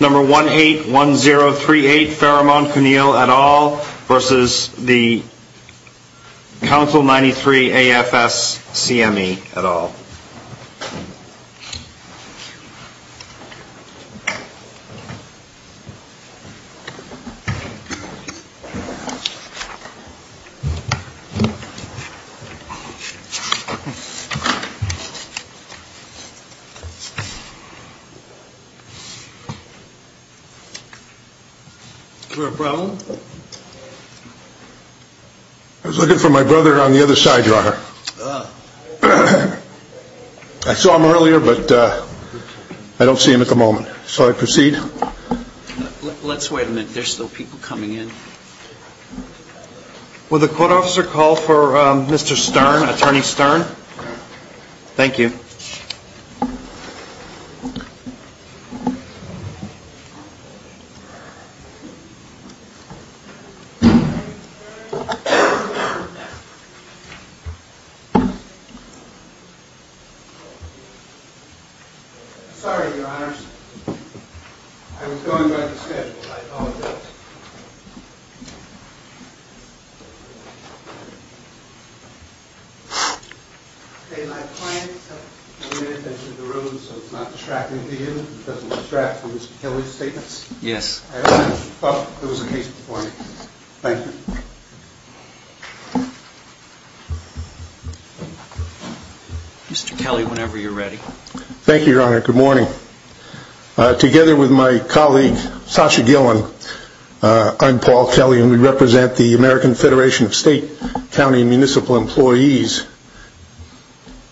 number 181038 Pheromone Cunille et al. versus the Council 93 AFS CME et al. I was looking for my brother on the other side, your honor. I saw him earlier but I don't see him at the moment. Shall I proceed? Let's wait a minute, there's still people coming in. Will the court officer call for Mr. Stern, Attorney Stern? Thank you. Sorry, your honors. I was going by the schedule, I apologize. Mr. Kelly, whenever you're ready. Thank you, your honor. Good morning. Together with my I'm Paul Kelly and we represent the American Federation of State, County and Municipal Employees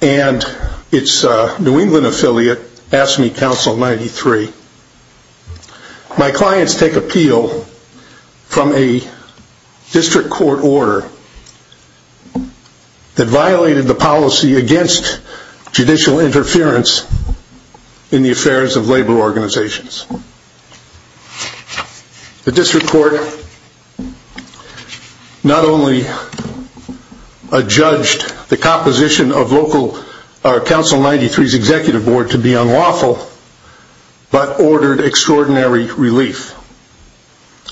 and its New England affiliate AFSCME Council 93. My clients take appeal from a district court order that violated the policy against judicial interference in the affairs of labor organizations. The district court not only adjudged the composition of local Council 93's executive board to be unlawful, but ordered extraordinary relief.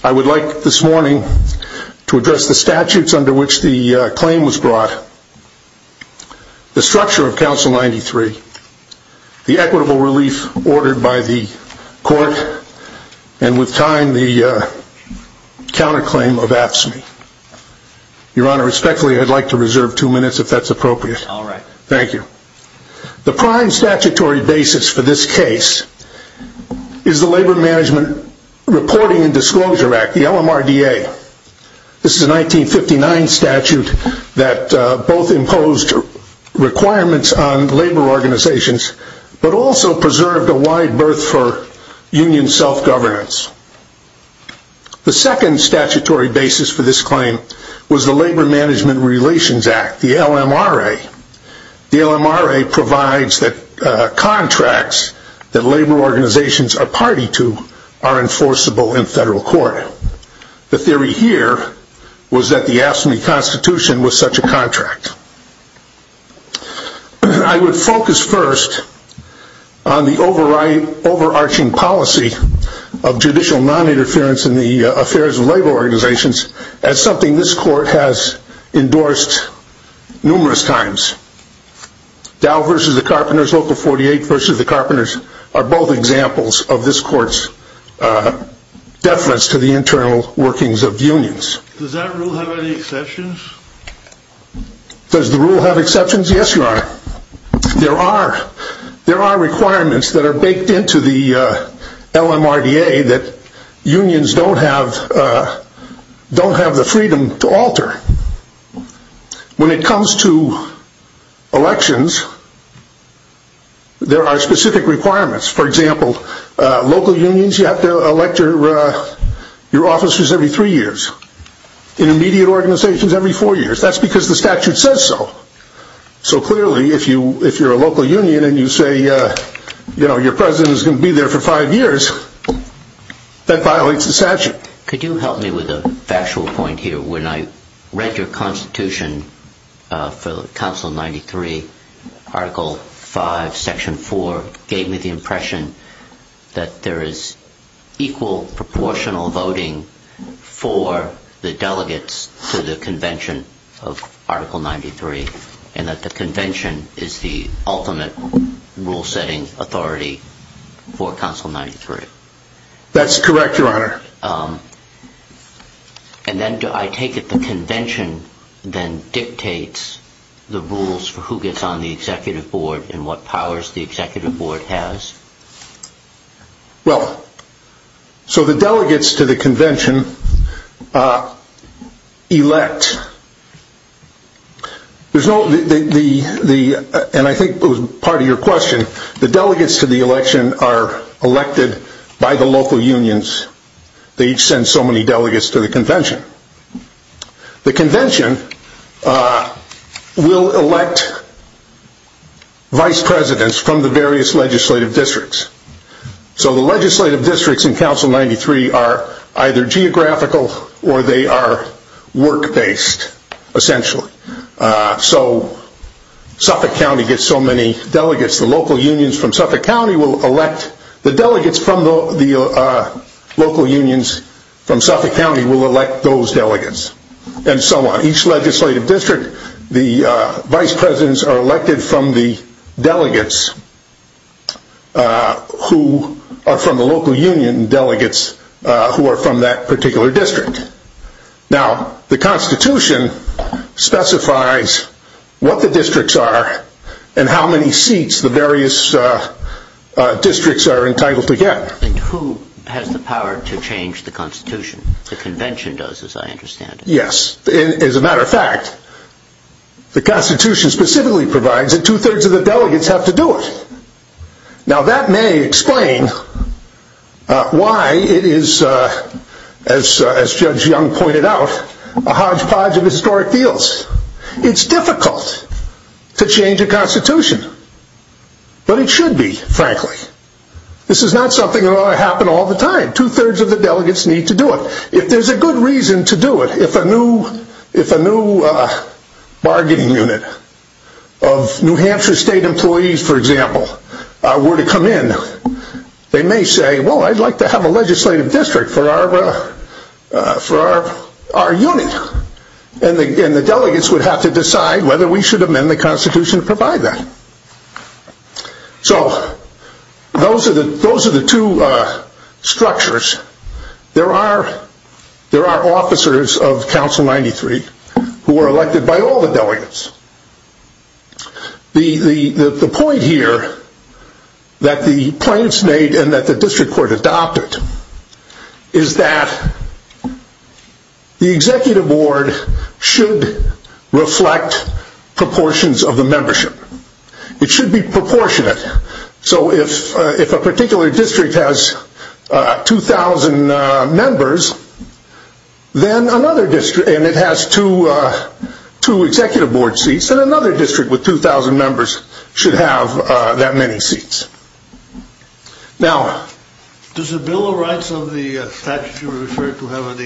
I would like this morning to address the statutes under which the claim was brought. The structure of Council 93, the equitable relief ordered by the court, and with time the counterclaim of AFSCME. Your honor, respectfully, I'd like to reserve two minutes if that's appropriate. Thank you. The prime statutory basis for this case is the Labor Management Reporting and organizations, but also preserved a wide berth for union self-governance. The second statutory basis for this claim was the Labor Management Relations Act, the LMRA. The LMRA provides that contracts that labor organizations are party to are enforceable in federal court. The theory here was that the AFSCME Constitution was such a contract. I would focus first on the overarching policy of judicial non-interference in the affairs of labor organizations as something this court has endorsed numerous times. Dow v. the Carpenters, Local 48 v. the Carpenters are both examples of this court's deference to the internal workings of unions. Does that rule have any exceptions? Does the rule have exceptions? Yes, your honor. There are requirements that are baked into the LMRA that unions don't have the freedom to alter. When it comes to requirements, for example, local unions, you have to elect your officers every three years. Intermediate organizations every four years. That's because the statute says so. So clearly, if you're a local union and you say your president is going to be there for five years, that violates the statute. Could you help me with a factual point here? When I read your Constitution for Council 93, Article 5, Section 4 gave me the impression that there is equal proportional voting for the delegates to the convention of Article 93 and that the convention is the ultimate rule-setting authority for Council 93. That's if the convention then dictates the rules for who gets on the executive board and what powers the executive board has? Well, so the delegates to the convention elect. There's no, and I think it was part of your question, the delegates to the election are elected by the local unions. They each send so many delegates to the convention. The convention will elect vice presidents from the various legislative districts. So the legislative districts in Council 93 are either geographical or they are work-based, essentially. So Suffolk County gets so many delegates, the local unions from Suffolk County will elect the delegates. The delegates from the local unions from Suffolk County will elect those delegates and so on. Each legislative district, the vice presidents are elected from the delegates who are from the local union delegates who are from that particular district. Now, the Constitution specifies what the districts are and how many seats the various districts are entitled to get. And who has the power to change the Constitution? The convention does, as I understand it. Yes. As a matter of fact, the Constitution specifically provides that two-thirds of the delegates have to do it. Now that may explain why it is, as Judge Young pointed out, a hodgepodge of historic deals. It's difficult to change a Constitution, but it should be, frankly. This is not something that ought to happen all the time. Two-thirds of the delegates need to do it. If there's a good reason to do it, if a new bargaining unit of New Hampshire State employees, for example, were to come in, they may say, well, I'd like to have a seat. And the delegates would have to decide whether we should amend the Constitution to provide that. So, those are the two structures. There are officers of Council 93 who are elected by all the delegates. The point here that the plaintiffs made and that the district court adopted is that the executive board should reflect proportions of the membership. It should be proportionate. So if a particular district has 2,000 members, then another district and it has two executive board seats, then another district with 2,000 members should have that many seats. Does the Bill of Rights of the Statutes you refer to have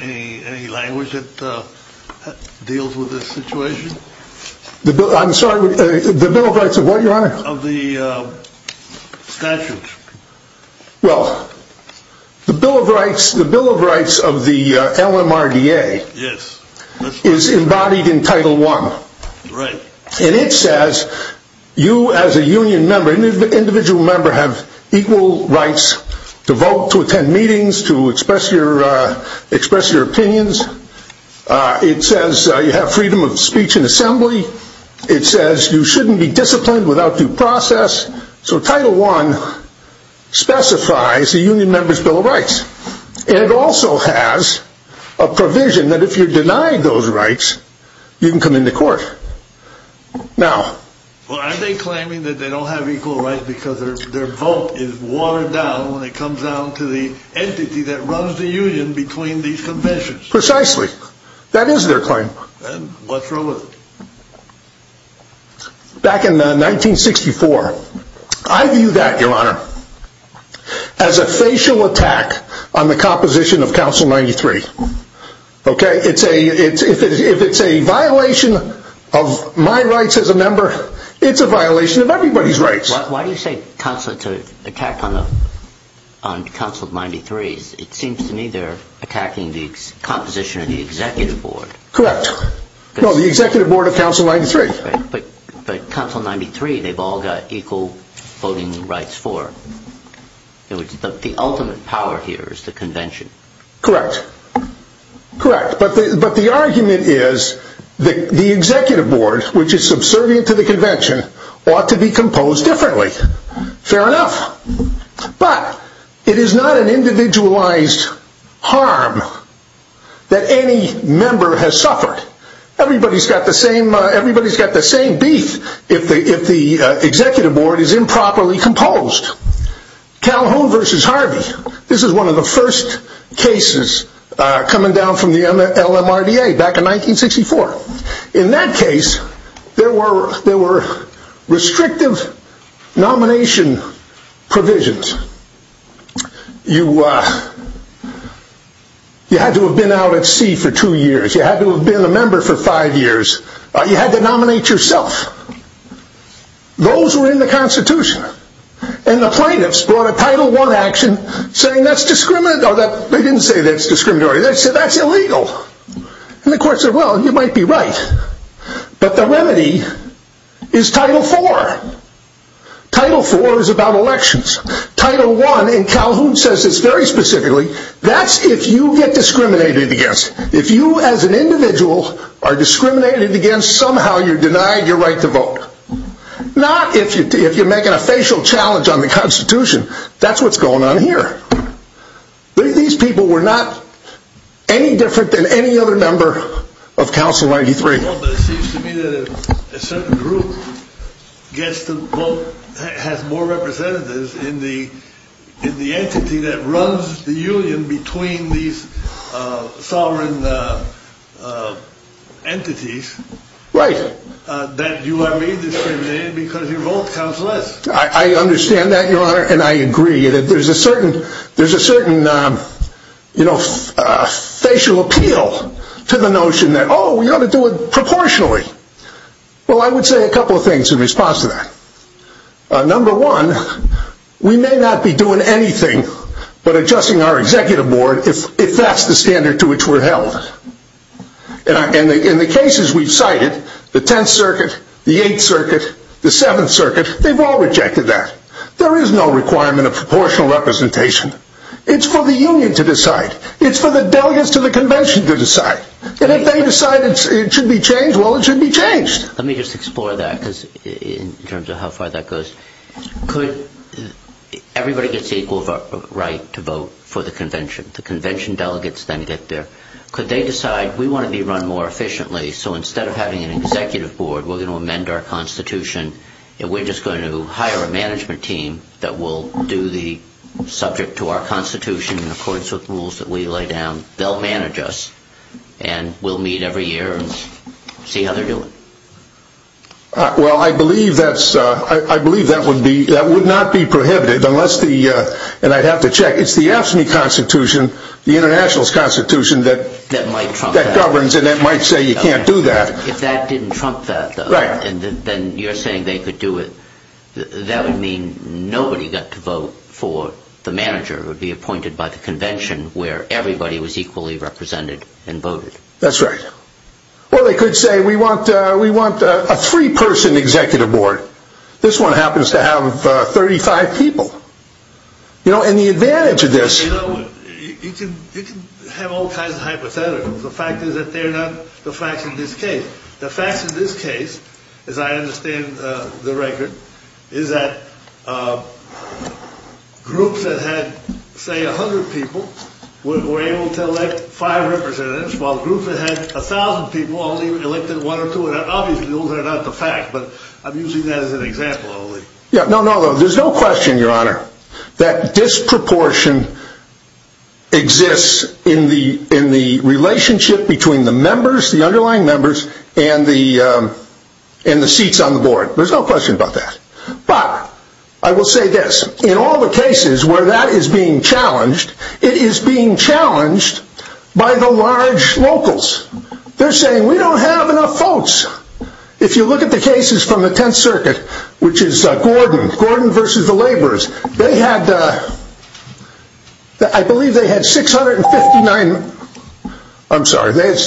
any language that deals with this situation? I'm sorry, the Bill of Rights of what, Your Honor? Of the Statutes. Well, the Bill of Rights of the LMRDA is embodied in Title I. And it says you as a union member, an individual member, have equal rights to vote, to attend meetings, to express your opinions. It says you have freedom of speech in assembly. It says you shouldn't be disciplined without due process. So Title I specifies a union member's Bill of Rights. And it also has a provision that if you're denied those rights, you can come into court. Are they claiming that they don't have equal rights because their vote is watered down when it comes down to the entity that runs the union between these conventions? Precisely. That is their claim. Then what's wrong with it? Back in 1964, I view that, Your Honor, as a facial attack on the composition of Council 93. Okay? If it's a violation of my rights as a member, it's a violation of everybody's rights. Why do you say attack on Council 93? It seems to me they're attacking the composition of the Executive Board. Correct. No, the Executive Board of Council 93. But Council 93, they've all got equal voting rights for. The ultimate power here is the convention. Correct. Correct. But the argument is the Executive Board, which is subservient to the convention, ought to be composed differently. Fair enough. But it is not an individualized harm that any member has suffered. Everybody's got the same beef if the Executive Board is improperly composed. Calhoun v. Harvey. This is a case in which there were restrictive nomination provisions. You had to have been out at sea for two years. You had to have been a member for five years. You had to nominate yourself. Those were in the Constitution. And the plaintiffs brought a Title I action saying that's discriminatory. They didn't say that's discriminatory. They said that's right. But the remedy is Title IV. Title IV is about elections. Title I, and Calhoun says this very specifically, that's if you get discriminated against. If you as an individual are discriminated against, somehow you're denied your right to vote. Not if you're making a facial challenge on the Constitution. That's what's going on here. These people were not any different than any other member of Council 93. But it seems to me that a certain group has more representatives in the entity that runs the union between these sovereign entities. Right. That you are made discriminated because your vote counts less. I understand that, Your Honor, and I agree. There's a certain facial appeal to the notion that, oh, we ought to do it proportionally. Well, I would say a couple of things in response to that. Number one, we may not be doing anything but adjusting our executive board if that's the standard to which we're held. In the cases we've cited, the 10th Circuit, the 8th Circuit, the 7th Circuit, they've all rejected that. There is no requirement of proportional representation. It's for the union to decide. It's for the delegates to the Convention to decide. And if they decide it should be changed, well, it should be changed. Let me just explore that in terms of how far that goes. Everybody gets equal right to vote for the Convention. The Convention delegates then get there. Could they decide, we want to be run more efficiently, so instead of having an executive board, we're going to have an executive team that will do the subject to our Constitution in accordance with rules that we lay down. They'll manage us, and we'll meet every year and see how they're doing. Well, I believe that would be, that would not be prohibited unless the, and I'd have to check, it's the AFSCME Constitution, the Internationalist Constitution that governs and that might say you can't do that. But if that didn't trump that, then you're saying they could do it. That would mean nobody got to vote for the manager who would be appointed by the Convention where everybody was equally represented and voted. That's right. Or they could say, we want a three-person executive board. This one happens to have 35 people. You know, and the advantage of this... You know, you can have all kinds of hypotheticals. The fact is that they're not the facts in this case. The facts in this case, as I understand the record, is that groups that had, say, 100 people were able to elect five representatives, while groups that had 1,000 people only elected one or two. And obviously, those are not the facts, but I'm using that as an example only. Yeah, no, no, there's no question, Your Honor, that disproportion exists in the relationship between the members, the underlying members, and the seats on the board. There's no question about that. But, I will say this. In all the cases where that is being challenged, it is being challenged by the large locals. They're saying, we don't have enough votes. If you look at the cases from the Tenth Circuit, which is Gordon, Gordon versus the laborers, they had, I believe they had, I'm sorry, they had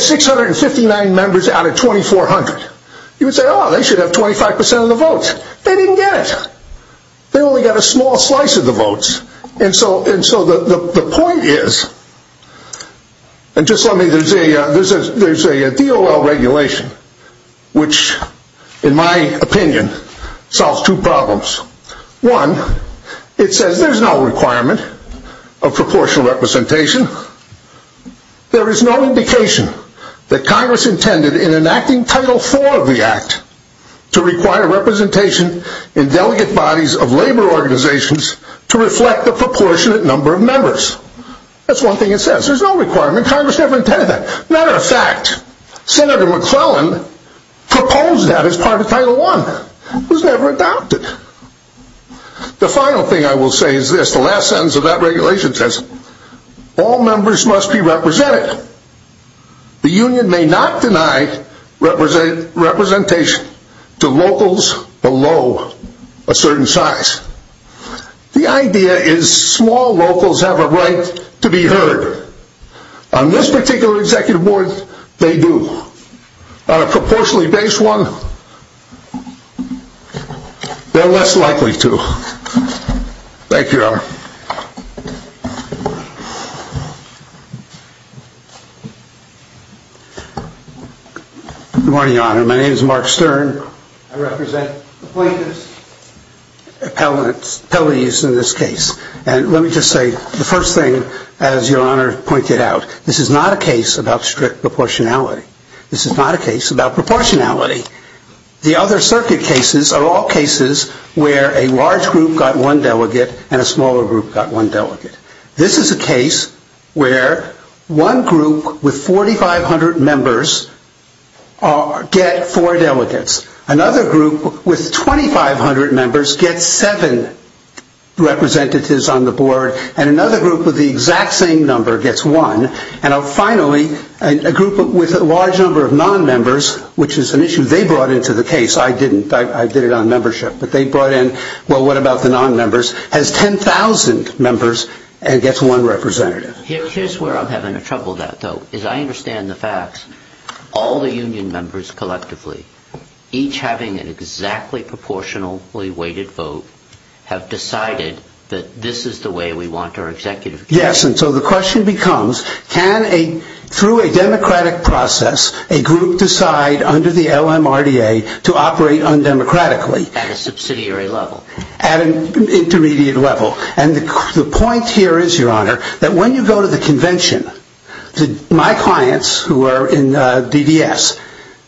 659 members out of 2,400. You would say, oh, they should have 25% of the votes. They didn't get it. They only got a small slice of the votes. And so, and so the point is, and just let me, there's a DOL regulation, which, in my opinion, solves two problems. One, it says there's no requirement of proportional representation. There is no indication that Congress intended in enacting Title IV of the Act to require representation in delegate bodies of labor organizations to reflect the proportionate number of members. That's one thing it says. There's no requirement. Congress never intended that. Matter of fact, Senator McClellan proposed that as part of Title I. It was never adopted. The final thing I will say is this, the last sentence of that regulation says, all members must be represented. The union may not deny representation to locals below a certain size. The idea is small locals have a right to be heard. On this particular executive board, they do. On a proportionally based one, they're less likely to. Thank you, Your Honor. Good morning, Your Honor. My name is Mark Stern. I represent the plaintiffs' appellees in this case. And let me just say the first thing, as Your Honor pointed out, this is not a case about strict proportionality. This is not a case about proportionality. The other circuit cases are all cases where a large group got one delegate and a smaller group got one delegate. This is a case where one group with 4,500 members get four delegates. Another group with 2,500 members gets seven representatives on the board. And another group with the exact same number gets one. And finally, a group with a large number of non-members, which is an issue they brought into the case. I didn't. I did it on membership. But they brought in, well, what about the non-members, has 10,000 members and gets one representative. Here's where I'm having trouble with that, though, is I understand the facts. All the members, each having an exactly proportionally weighted vote, have decided that this is the way we want our executive committee. Yes. And so the question becomes, can a, through a democratic process, a group decide under the LMRDA to operate undemocratically? At a subsidiary level. At an intermediate level. And the point here is, Your Honor, that when you go to the convention, my clients, who are in DDS,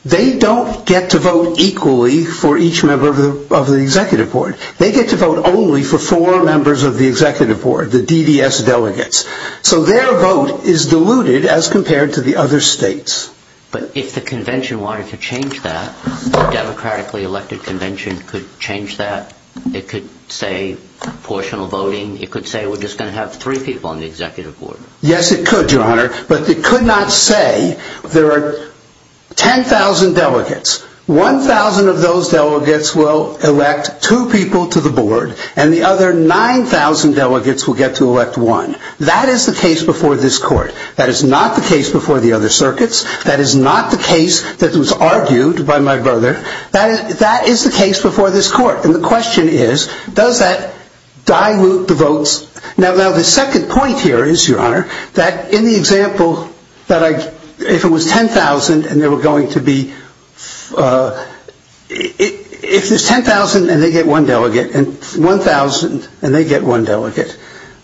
they don't get to vote equally for each member of the executive board. They get to vote only for four members of the executive board, the DDS delegates. So their vote is diluted as compared to the other states. But if the convention wanted to change that, a democratically elected convention could change that? It could say proportional voting? It could say we're just going to have three people on the executive board? Yes, it could, Your Honor. But it could not say there are 10,000 delegates. 1,000 of those delegates will elect two people to the board and the other 9,000 delegates will get to elect one. That is the case before this court. That is not the case before the other circuits. That is not the case that was argued by my brother. That is the case before this court. And the question is, does that dilute the votes? Now, the second point here is, Your Honor, that in the example that if it was 10,000 and they were going to be, if it's 10,000 and they get one delegate, and 1,000 and they get one delegate,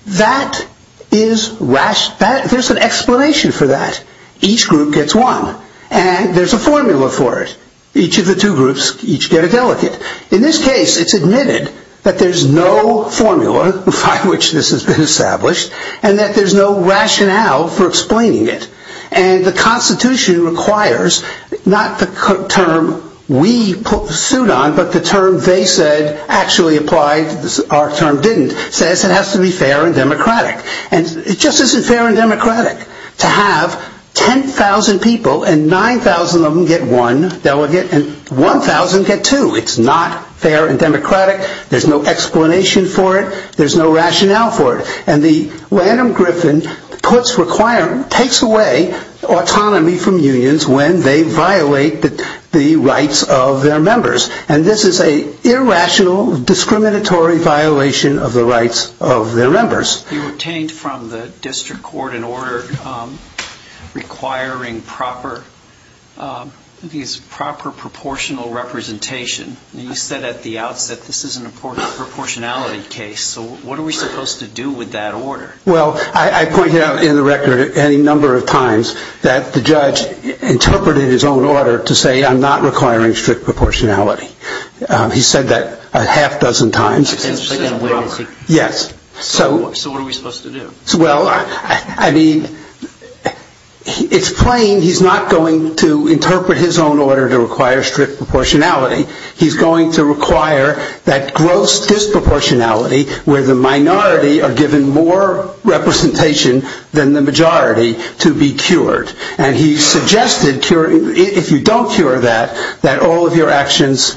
that is rash. There's an explanation for that. Each group gets one and there's a formula for it. Each of the two groups, each get a delegate. In this case, it's admitted that there's no formula by which this has been established and that there's no rationale for explaining it. And the Constitution requires, not the term we put the suit on, but the term they said actually applied, our term didn't, says it has to be fair and democratic. And it just isn't fair and democratic to have 10,000 people and 9,000 of them get one delegate and 1,000 get two. It's not fair and democratic. There's no explanation for it. There's no rationale for it. And the Lanham-Griffin puts requirement, takes away autonomy from unions when they violate the rights of their members. And this is a irrational, discriminatory violation of the rights of their members. You obtained from the district court an order requiring proper, I think it's proper proportional representation. And you said at the outset, this is an important proportionality case. So what are we supposed to do with that order? Well, I pointed out in the record any number of times that the judge interpreted his own order to say, I'm not requiring strict proportionality. He said that a half dozen times. Yes. So what are we supposed to do? Well, I mean, it's plain he's not going to interpret his own order to require strict proportionality. He's going to require that gross disproportionality where the minority are given more representation than the majority to be cured. And he suggested, if you don't cure that, that all of your actions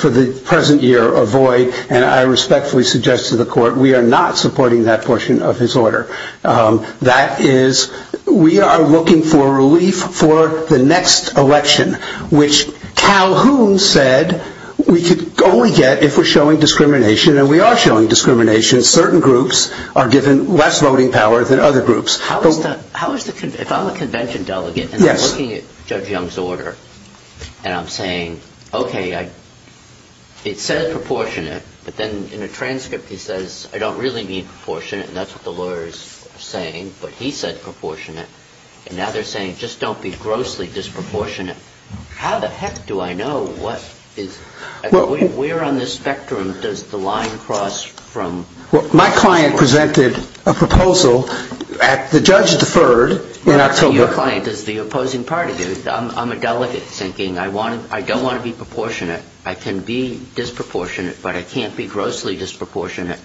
for the present year avoid. And I respectfully suggest to the court, we are not supporting that portion of his order. That is, we are looking for relief for the next election, which Calhoun said we could only get if we're showing discrimination. And we are showing discrimination. Certain groups are given less voting power than other groups. How is that? How is the if I'm a convention delegate looking at Judge Young's order and I'm saying, OK, it says proportionate, but then in a transcript, he says, I don't really mean proportionate. And that's what the lawyers are saying. But he said proportionate. And now they're saying, just don't be grossly disproportionate. How the heck do I know what is where on the spectrum does the line cross from what my client presented a proposal at the judge deferred in October? Your client is the opposing party. I'm a delegate thinking I want I don't want to be proportionate. I can be disproportionate, but I can't be grossly disproportionate.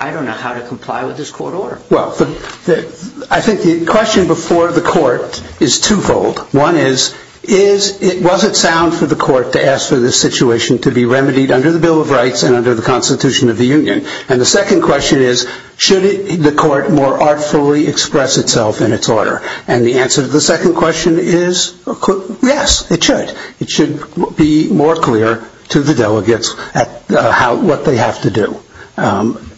I don't know how to comply with this court order. Well, I think the question before the court is twofold. One is, is it was it sound for the court to ask for this situation to be remedied under the Bill of Rights and under the Constitution of the Union? And the second question is, should the court more artfully express itself in its order? And the answer to the second question is, yes, it should. It should be more clear to the delegates at what they have to do.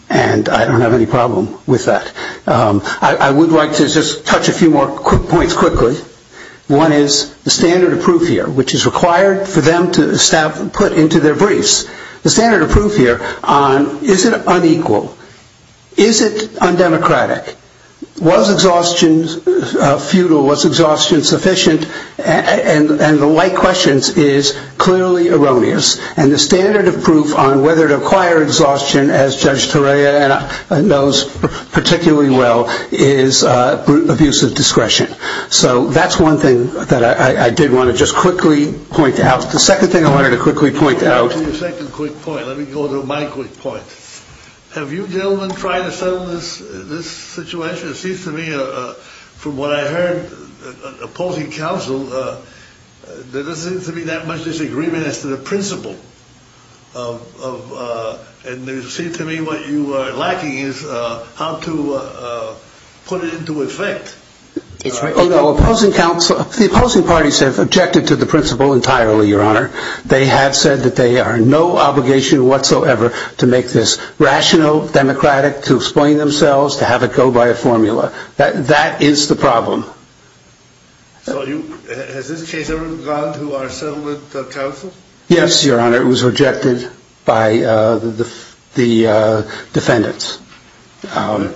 And I don't have any problem with that. I would like to just touch a few more points quickly. One is the standard of proof here, which is required for them to put into their briefs. The standard of proof here on is it unequal? Is it undemocratic? Was exhaustion futile? Was exhaustion sufficient? And the like questions is clearly erroneous. And the standard of proof on whether to acquire exhaustion, as Judge Torea knows particularly well, is abuse of discretion. So that's one thing that I did want to just quickly point out. The second thing I wanted to quickly point out. To your second quick point, let me go to my quick point. Have you gentlemen tried to settle this situation? It seems to me from what I heard, opposing counsel, there doesn't seem to be that much disagreement as to the principle. And it seems to me what you are lacking is how to put it into effect. It's right opposing counsel. The opposing parties have objected to the principle entirely, Your Honor. They have said that they are no obligation whatsoever to make this rational, democratic, to explain themselves, to have it go by a formula. That is the problem. So has this case ever gone to our settlement counsel? Yes, Your Honor. It was rejected by the defendants. And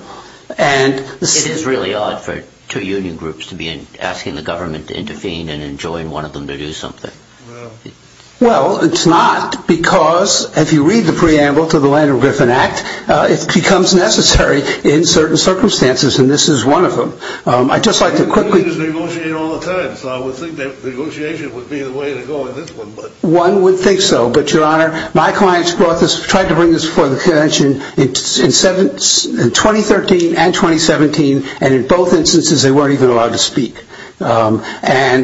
it is really odd for two union groups to be asking the government to intervene and enjoin one of them to do something. Well, it's not because if you read the preamble to the Land of Griffin Act, it becomes necessary in certain circumstances. And this is one of them. I just like to quickly negotiate all the time. So I would think that negotiation would be the way to go in this one. But one would think so. But, Your Honor, my clients brought this, tried to bring this before the convention in 2013 and 2017. And in both instances, they weren't even allowed to speak. And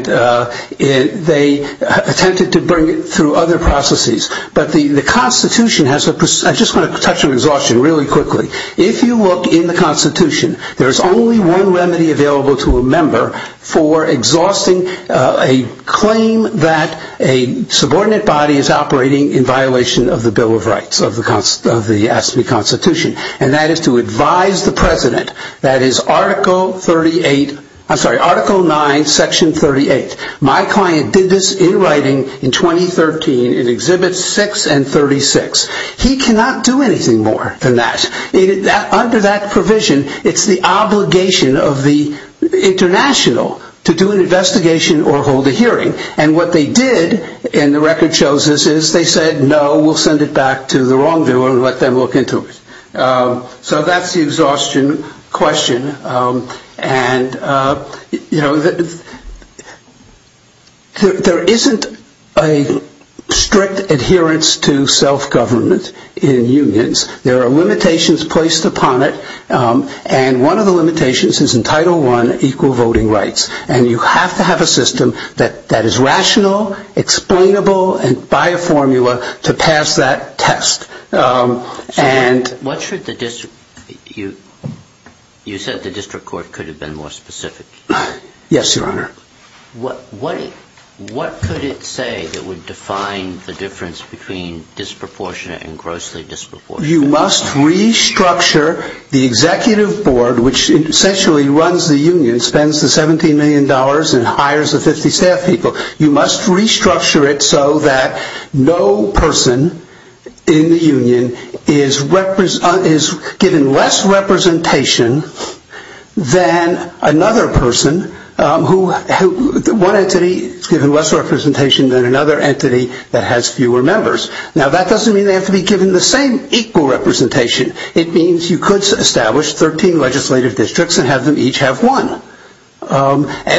they attempted to bring it through other processes. But the Constitution has a, I just want to touch on exhaustion really quickly. If you look in the Constitution, there is only one remedy available to a member for exhausting a claim that a subordinate body is operating in violation of the Bill of Rights of the Constitution. And that is to advise the president. That is Article 38, I'm sorry, Article 9, Section 38. My client did this in writing in 2013 in Exhibits 6 and 36. He cannot do anything more than that. Under that provision, it's the obligation of the international to do an investigation or hold a hearing. And what they did, and the record shows this, is they said, no, we'll send it back to the wrongdoer and let them look into it. So that's the exhaustion question. And, you know, there isn't a strict adherence to self-government in unions. There are limitations placed upon it. And one of the limitations is in Title I, equal voting rights. And you have to have a system that is rational, explainable, and by a formula to pass that test. And what should the district, you said the district court could have been more specific. Yes, Your Honor. What could it say that would define the difference between disproportionate and grossly disproportionate? You must restructure the executive board, which essentially runs the union, spends the $17 million and hires the 50 staff people. You must restructure it so that no person in the union is given less representation than another person who, one entity is given less representation than another entity that has fewer members. Now, that doesn't mean they have to be given the same equal representation. It means you could establish 13 legislative districts and have them each have one,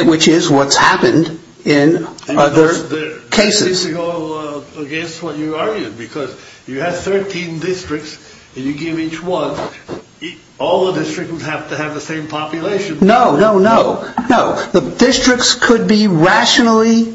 which is what's happened in other cases. That seems to go against what you argued, because you have 13 districts and you give each one, all the districts would have to have the same population. No, no, no, no. The districts could be rationally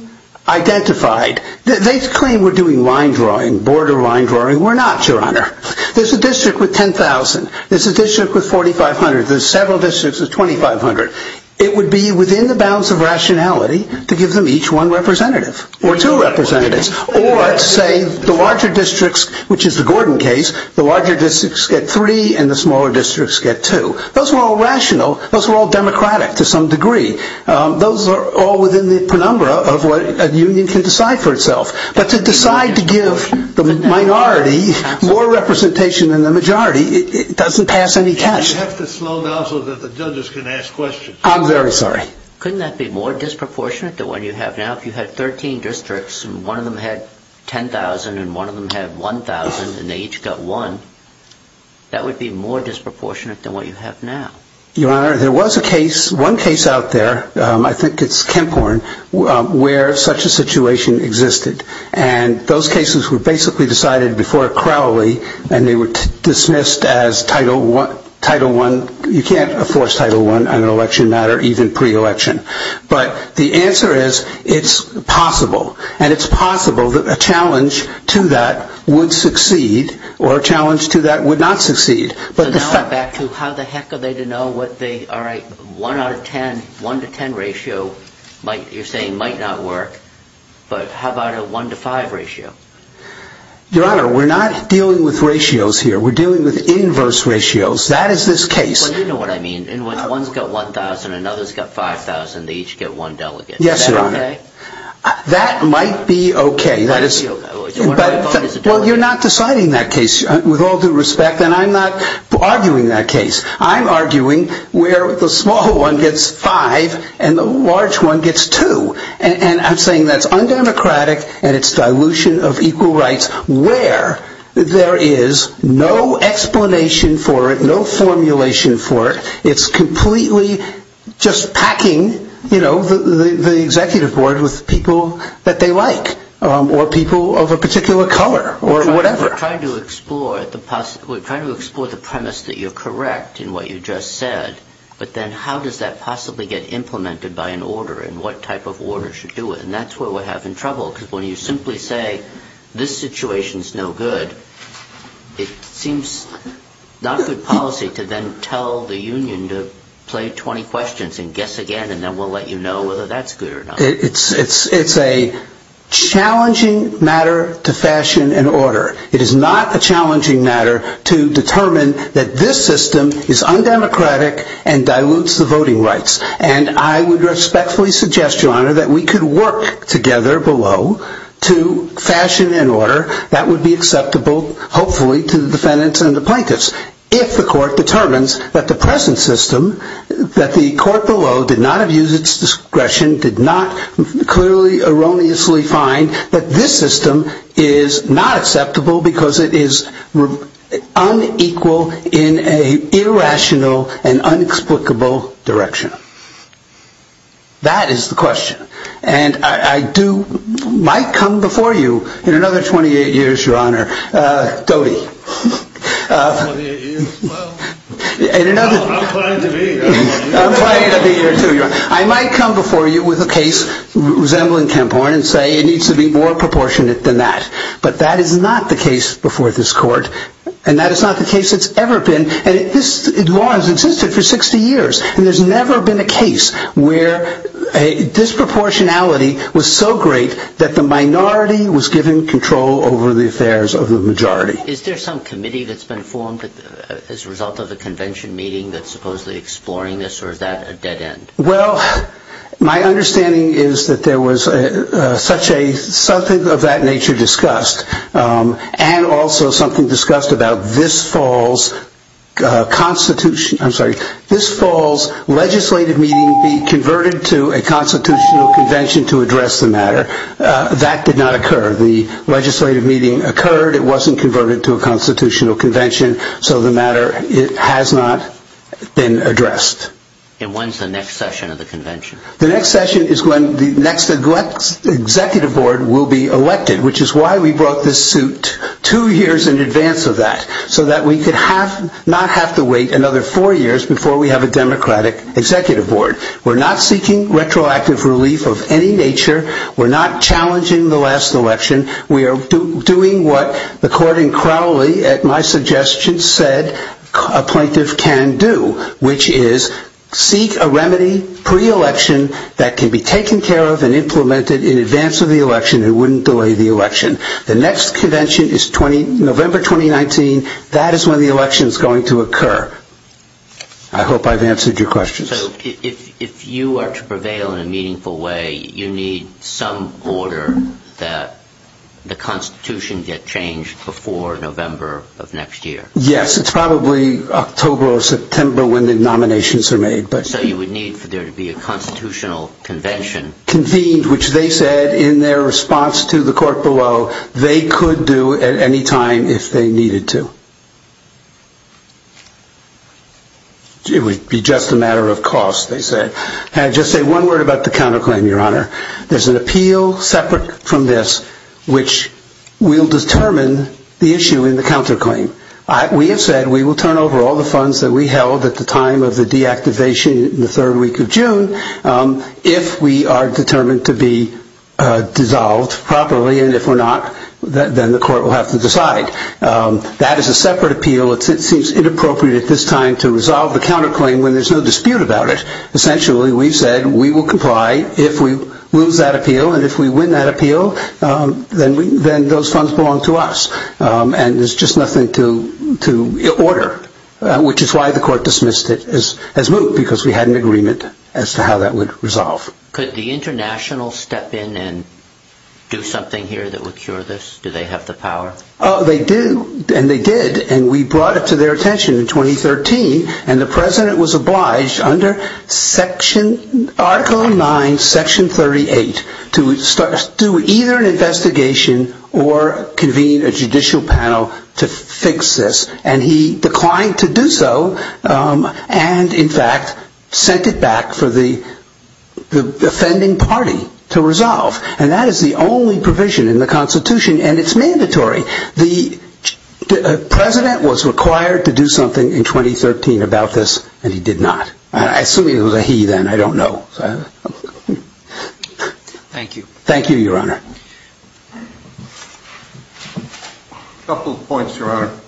identified. They claim we're doing line drawing, border line drawing. We're not, Your Honor. There's a district with 10,000. There's a district with 4,500. There's several districts with 2,500. It would be within the bounds of rationality to give them each one representative or two representatives, or to say the larger districts, which is the Gordon case, the larger districts get three and the smaller districts get two. Those were all rational. Those were all democratic to some degree. Those are all within the penumbra of what a union can decide for itself. But to decide to give the minority more representation than the majority, it doesn't pass any test. You have to slow down so that the judges can ask questions. I'm very sorry. Couldn't that be more disproportionate than what you have now? If you had 13 districts and one of them had 10,000 and one of them had 1,000 and they each got one, that would be more disproportionate than what you have now. Your Honor, there was a case, one case out there, I think it's Kenporn, where such a situation existed and those cases were basically decided before Crowley and they were dismissed as title one. You can't force title one on an election matter, even pre-election. But the answer is it's possible and it's possible that a challenge to that would succeed or a challenge to that would not succeed. But back to how the heck are they to know what they, all right, one out of 10, one to 10 ratio, you're saying might not work, but how about a one to five ratio? Your Honor, we're not dealing with ratios here. We're dealing with inverse ratios. That is this case. Well, you know what I mean. And when one's got 1,000 and another's got 5,000, they each get one delegate. Yes, Your Honor. That might be okay. That is, well, you're not deciding that case with all due respect. And I'm not arguing that case. I'm arguing where the small one gets five and the large one gets two. And I'm saying that's undemocratic and it's dilution of equal rights where there is no explanation for it, no formulation for it. It's completely just packing, you know, the executive board with people that they like or people of a particular color or whatever. We're trying to explore the premise that you're correct in what you just said, but then how does that possibly get implemented by an order and what type of order should do it? And that's where we're having trouble because when you simply say this situation is no good, it seems not good policy to then tell the union to play 20 questions and guess again, and then we'll let you know whether that's good or not. It's a challenging matter to fashion an order. It is not a challenging matter to determine that this system is undemocratic and dilutes the voting rights. And I would respectfully suggest, your honor, that we could work together below to fashion an order that would be acceptable, hopefully, to the defendants and the plaintiffs if the court determines that the present system, that the court below did not have used its discretion, did not clearly erroneously find that this system is not acceptable because it is unequal in an irrational and unexplicable direction. That is the question. And I do, might come before you in another 28 years, your honor, Doty, I might come before you with a case resembling Kemphorn and say it needs to be more proportionate than that. But that is not the case before this court, and that is not the case it's ever been. And this law has existed for 60 years, and there's never been a case where a disproportionality was so great that the minority was given control over the affairs of the majority. Is there some committee that's been formed as a result of the convention meeting that's supposedly exploring this, or is that a dead end? Well, my understanding is that there was such a, something of that nature discussed, and also something discussed about this fall's constitution, I'm sorry, this fall's legislative meeting be converted to a constitutional convention to address the matter. That did not occur. The legislative meeting occurred, it wasn't converted to a constitutional convention, so the matter has not been addressed. And when's the next session of the convention? The next session is when the next executive board will be elected, which is why we brought this suit two years in advance of that, so that we could not have to wait another four years before we have a democratic executive board. We're not seeking retroactive relief of any nature, we're not challenging the last election, we are doing what the court in Crowley at my suggestion said a plaintiff can do, which is seek a remedy pre-election that can be taken care of and implemented in advance of the election, it wouldn't delay the election. The next convention is November 2019, that is when the election is going to occur. I hope I've answered your question. So, if you are to prevail in a meaningful way, you need some order that the constitution get changed before November of next year? Yes, it's probably October or September when the nominations are made. So you would need for there to be a constitutional convention? Convened, which they said in their response to the court below, they could do at any time if they needed to. It would be just a matter of cost, they said. Can I just say one word about the counterclaim, your honor? There's an appeal separate from this, which will determine the issue in the counterclaim. We have said we will turn over all the funds that we held at the time of the deactivation in the third week of June, if we are determined to be dissolved properly, and if we're not, then the court will have to decide. That is a separate appeal. It seems inappropriate at this time to resolve the counterclaim when there's no dispute about it. Essentially, we've said we will comply if we lose that appeal, and if we win that appeal, then those funds belong to us. And there's just nothing to order, which is why the court dismissed it as moot, because we had an agreement as to how that would resolve. Could the internationals step in and do something here that would cure this? Do they have the power? Oh, they do, and they did, and we brought it to their attention in 2013, and the president was obliged under Article 9, Section 38 to do either an investigation or convene a judicial panel to fix this, and he declined to do so, and in fact, sent it back for the offending party to resolve. And that is the only provision in the Constitution, and it's mandatory. The president was required to do something in 2013 about this, and he did not. I assume it was a he then, I don't know. Thank you. Thank you, Your Honor. A couple of points, Your Honor.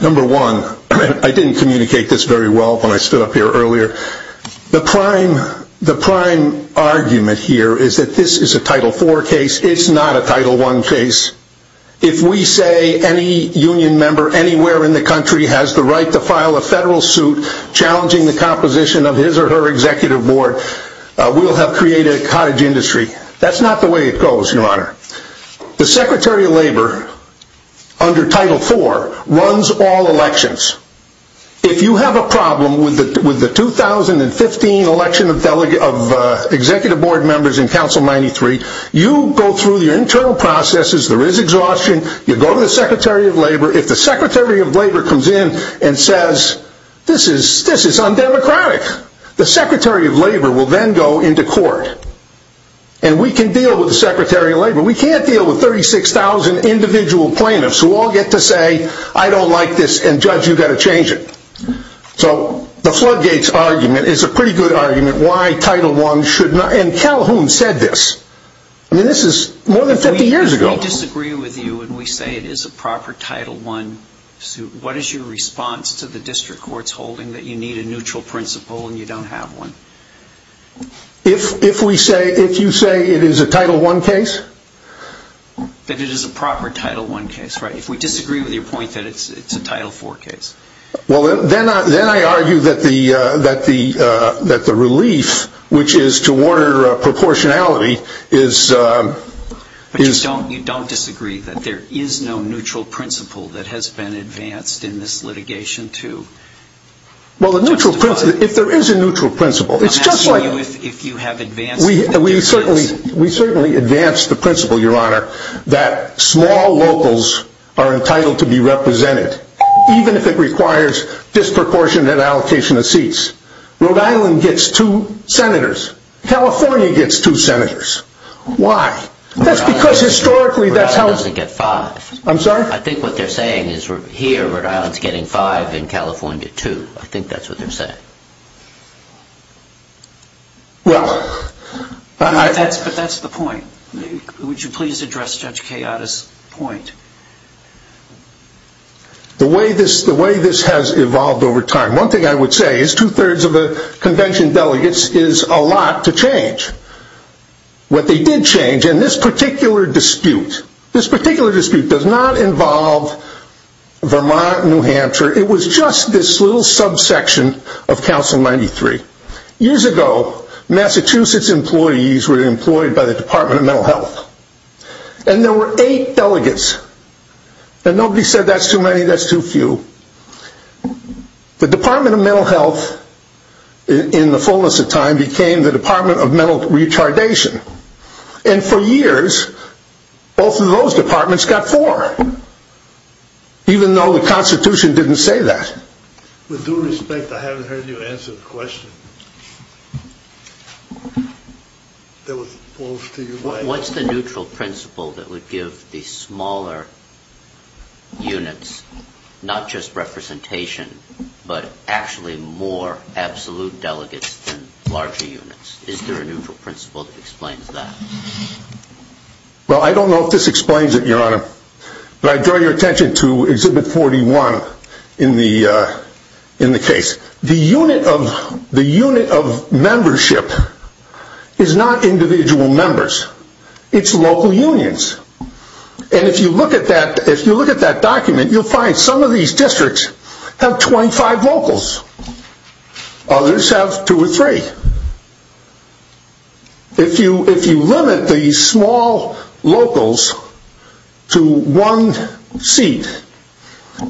Number one, I didn't communicate this very well when I stood up here earlier. The prime argument here is that this is a Title IV case, it's not a Title I case. If we say any union member anywhere in the country has the right to file a federal suit challenging the composition of his or her executive board, we'll have created a cottage industry. That's not the way it goes, Your Honor. The Secretary of Labor, under Title IV, runs all elections. If you have a problem with the 2015 election of executive board members in Council 93, you go through your internal processes, there is exhaustion, you go to the Secretary of Labor. If the Secretary of Labor comes in and says, this is undemocratic, the Secretary of Labor will then go into court, and we can deal with the Secretary of Labor. We can't deal with 36,000 individual plaintiffs who all get to say, I don't like this and Judge, you've got to change it. The Floodgates argument is a pretty good argument why Title I should not, and Calhoun said this. This is more than 50 years ago. If we disagree with you and we say it is a proper Title I suit, what is your response to the district court's holding that you need a neutral principle and you don't have one? If we say, if you say it is a Title I case? That it is a proper Title I case, right? If we disagree with your point that it is a Title IV case? Then I argue that the relief, which is to order proportionality, is... You don't disagree that there is no neutral principle that has been advanced in this litigation too? Well, the neutral principle, if there is a neutral principle, it's just like... I'm asking you if you have advanced... We certainly advanced the principle, your honor, that small locals are entitled to be represented even if it requires disproportionate allocation of seats. Rhode Island gets two senators. California gets two senators. Why? That's because historically... Rhode Island doesn't get five. I'm sorry? I think what they're saying is here Rhode Island is getting five and California two. I think that's what they're saying. Well... But that's the point. Would you please address Judge Cayatta's point? The way this has evolved over time, one thing I would say is two-thirds of the convention delegates is a lot to change. What they did change in this particular dispute, this particular dispute does not involve Vermont and New Hampshire. It was just this little subsection of Council 93. Years ago, Massachusetts employees were employed by the Department of Mental Health. And there were eight delegates. And nobody said that's too many, that's too few. The Department of Mental Health, in the fullness of time, became the Department of Mental Retardation. And for years, both of those departments got four. Even though the Constitution didn't say that. With due respect, I haven't heard you answer the question. What's the neutral principle that would give the smaller units, not just representation, but actually more absolute delegates than larger units? Is there a neutral principle that explains that? Well, I don't know if this explains it, Your Honor. But I draw your attention to Exhibit 41 in the case. The unit of membership is not individual members. It's local unions. And if you look at that document, you'll find some of these districts have 25 locals. Others have two or three. If you limit the small locals to one seat,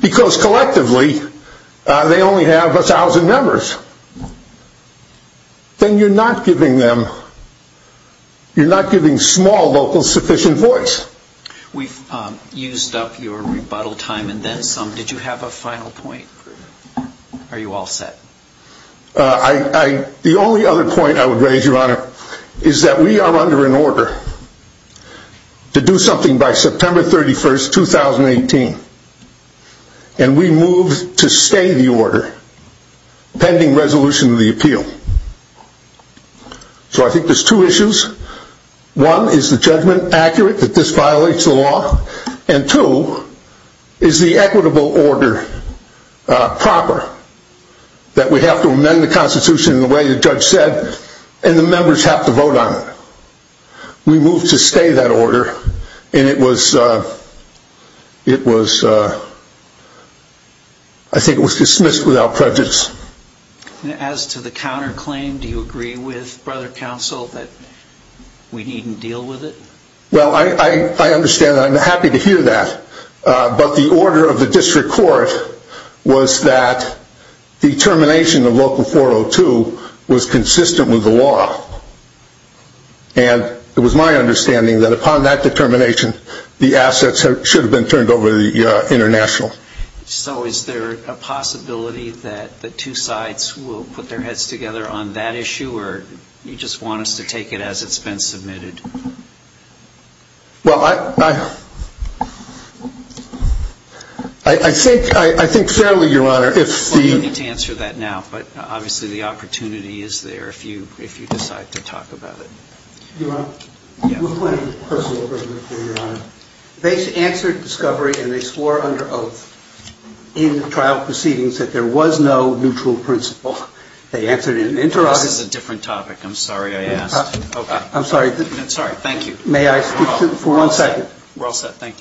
because collectively they only have a thousand members, then you're not giving small locals sufficient voice. We've used up your rebuttal time in this. Did you have a final point? Are you all set? The only other point I would raise, Your Honor, is that we are under an order to do something by September 31st, 2018. And we move to stay the order, pending resolution of the appeal. So I think there's two issues. One, is the judgment accurate that this violates the law? And two, is the equitable order proper that we have to amend the Constitution in the way the judge said, and the members have to vote on it? We move to stay that order, and it was, I think it was dismissed without prejudice. As to the counterclaim, do you agree with Brother Counsel that we needn't deal with it? Well, I understand. I'm happy to hear that. But the order of the district court was that the termination of Local 402 was consistent with the law. And it was my understanding that upon that determination, the assets should have been turned over to the international. So is there a possibility that the two sides will put their heads together on that issue, or you just want us to take it as it's been submitted? Well, I think fairly, Your Honor. Well, you don't need to answer that now, but obviously the opportunity is there if you decide to talk about it. Your Honor, I have a personal question for you, Your Honor. They answered discovery, and they swore under oath in the trial proceedings that there was no neutral principle. This is a different topic. I'm sorry I asked. I'm sorry. I'm sorry. Thank you. May I speak to it for one second? We're all set. Thank you.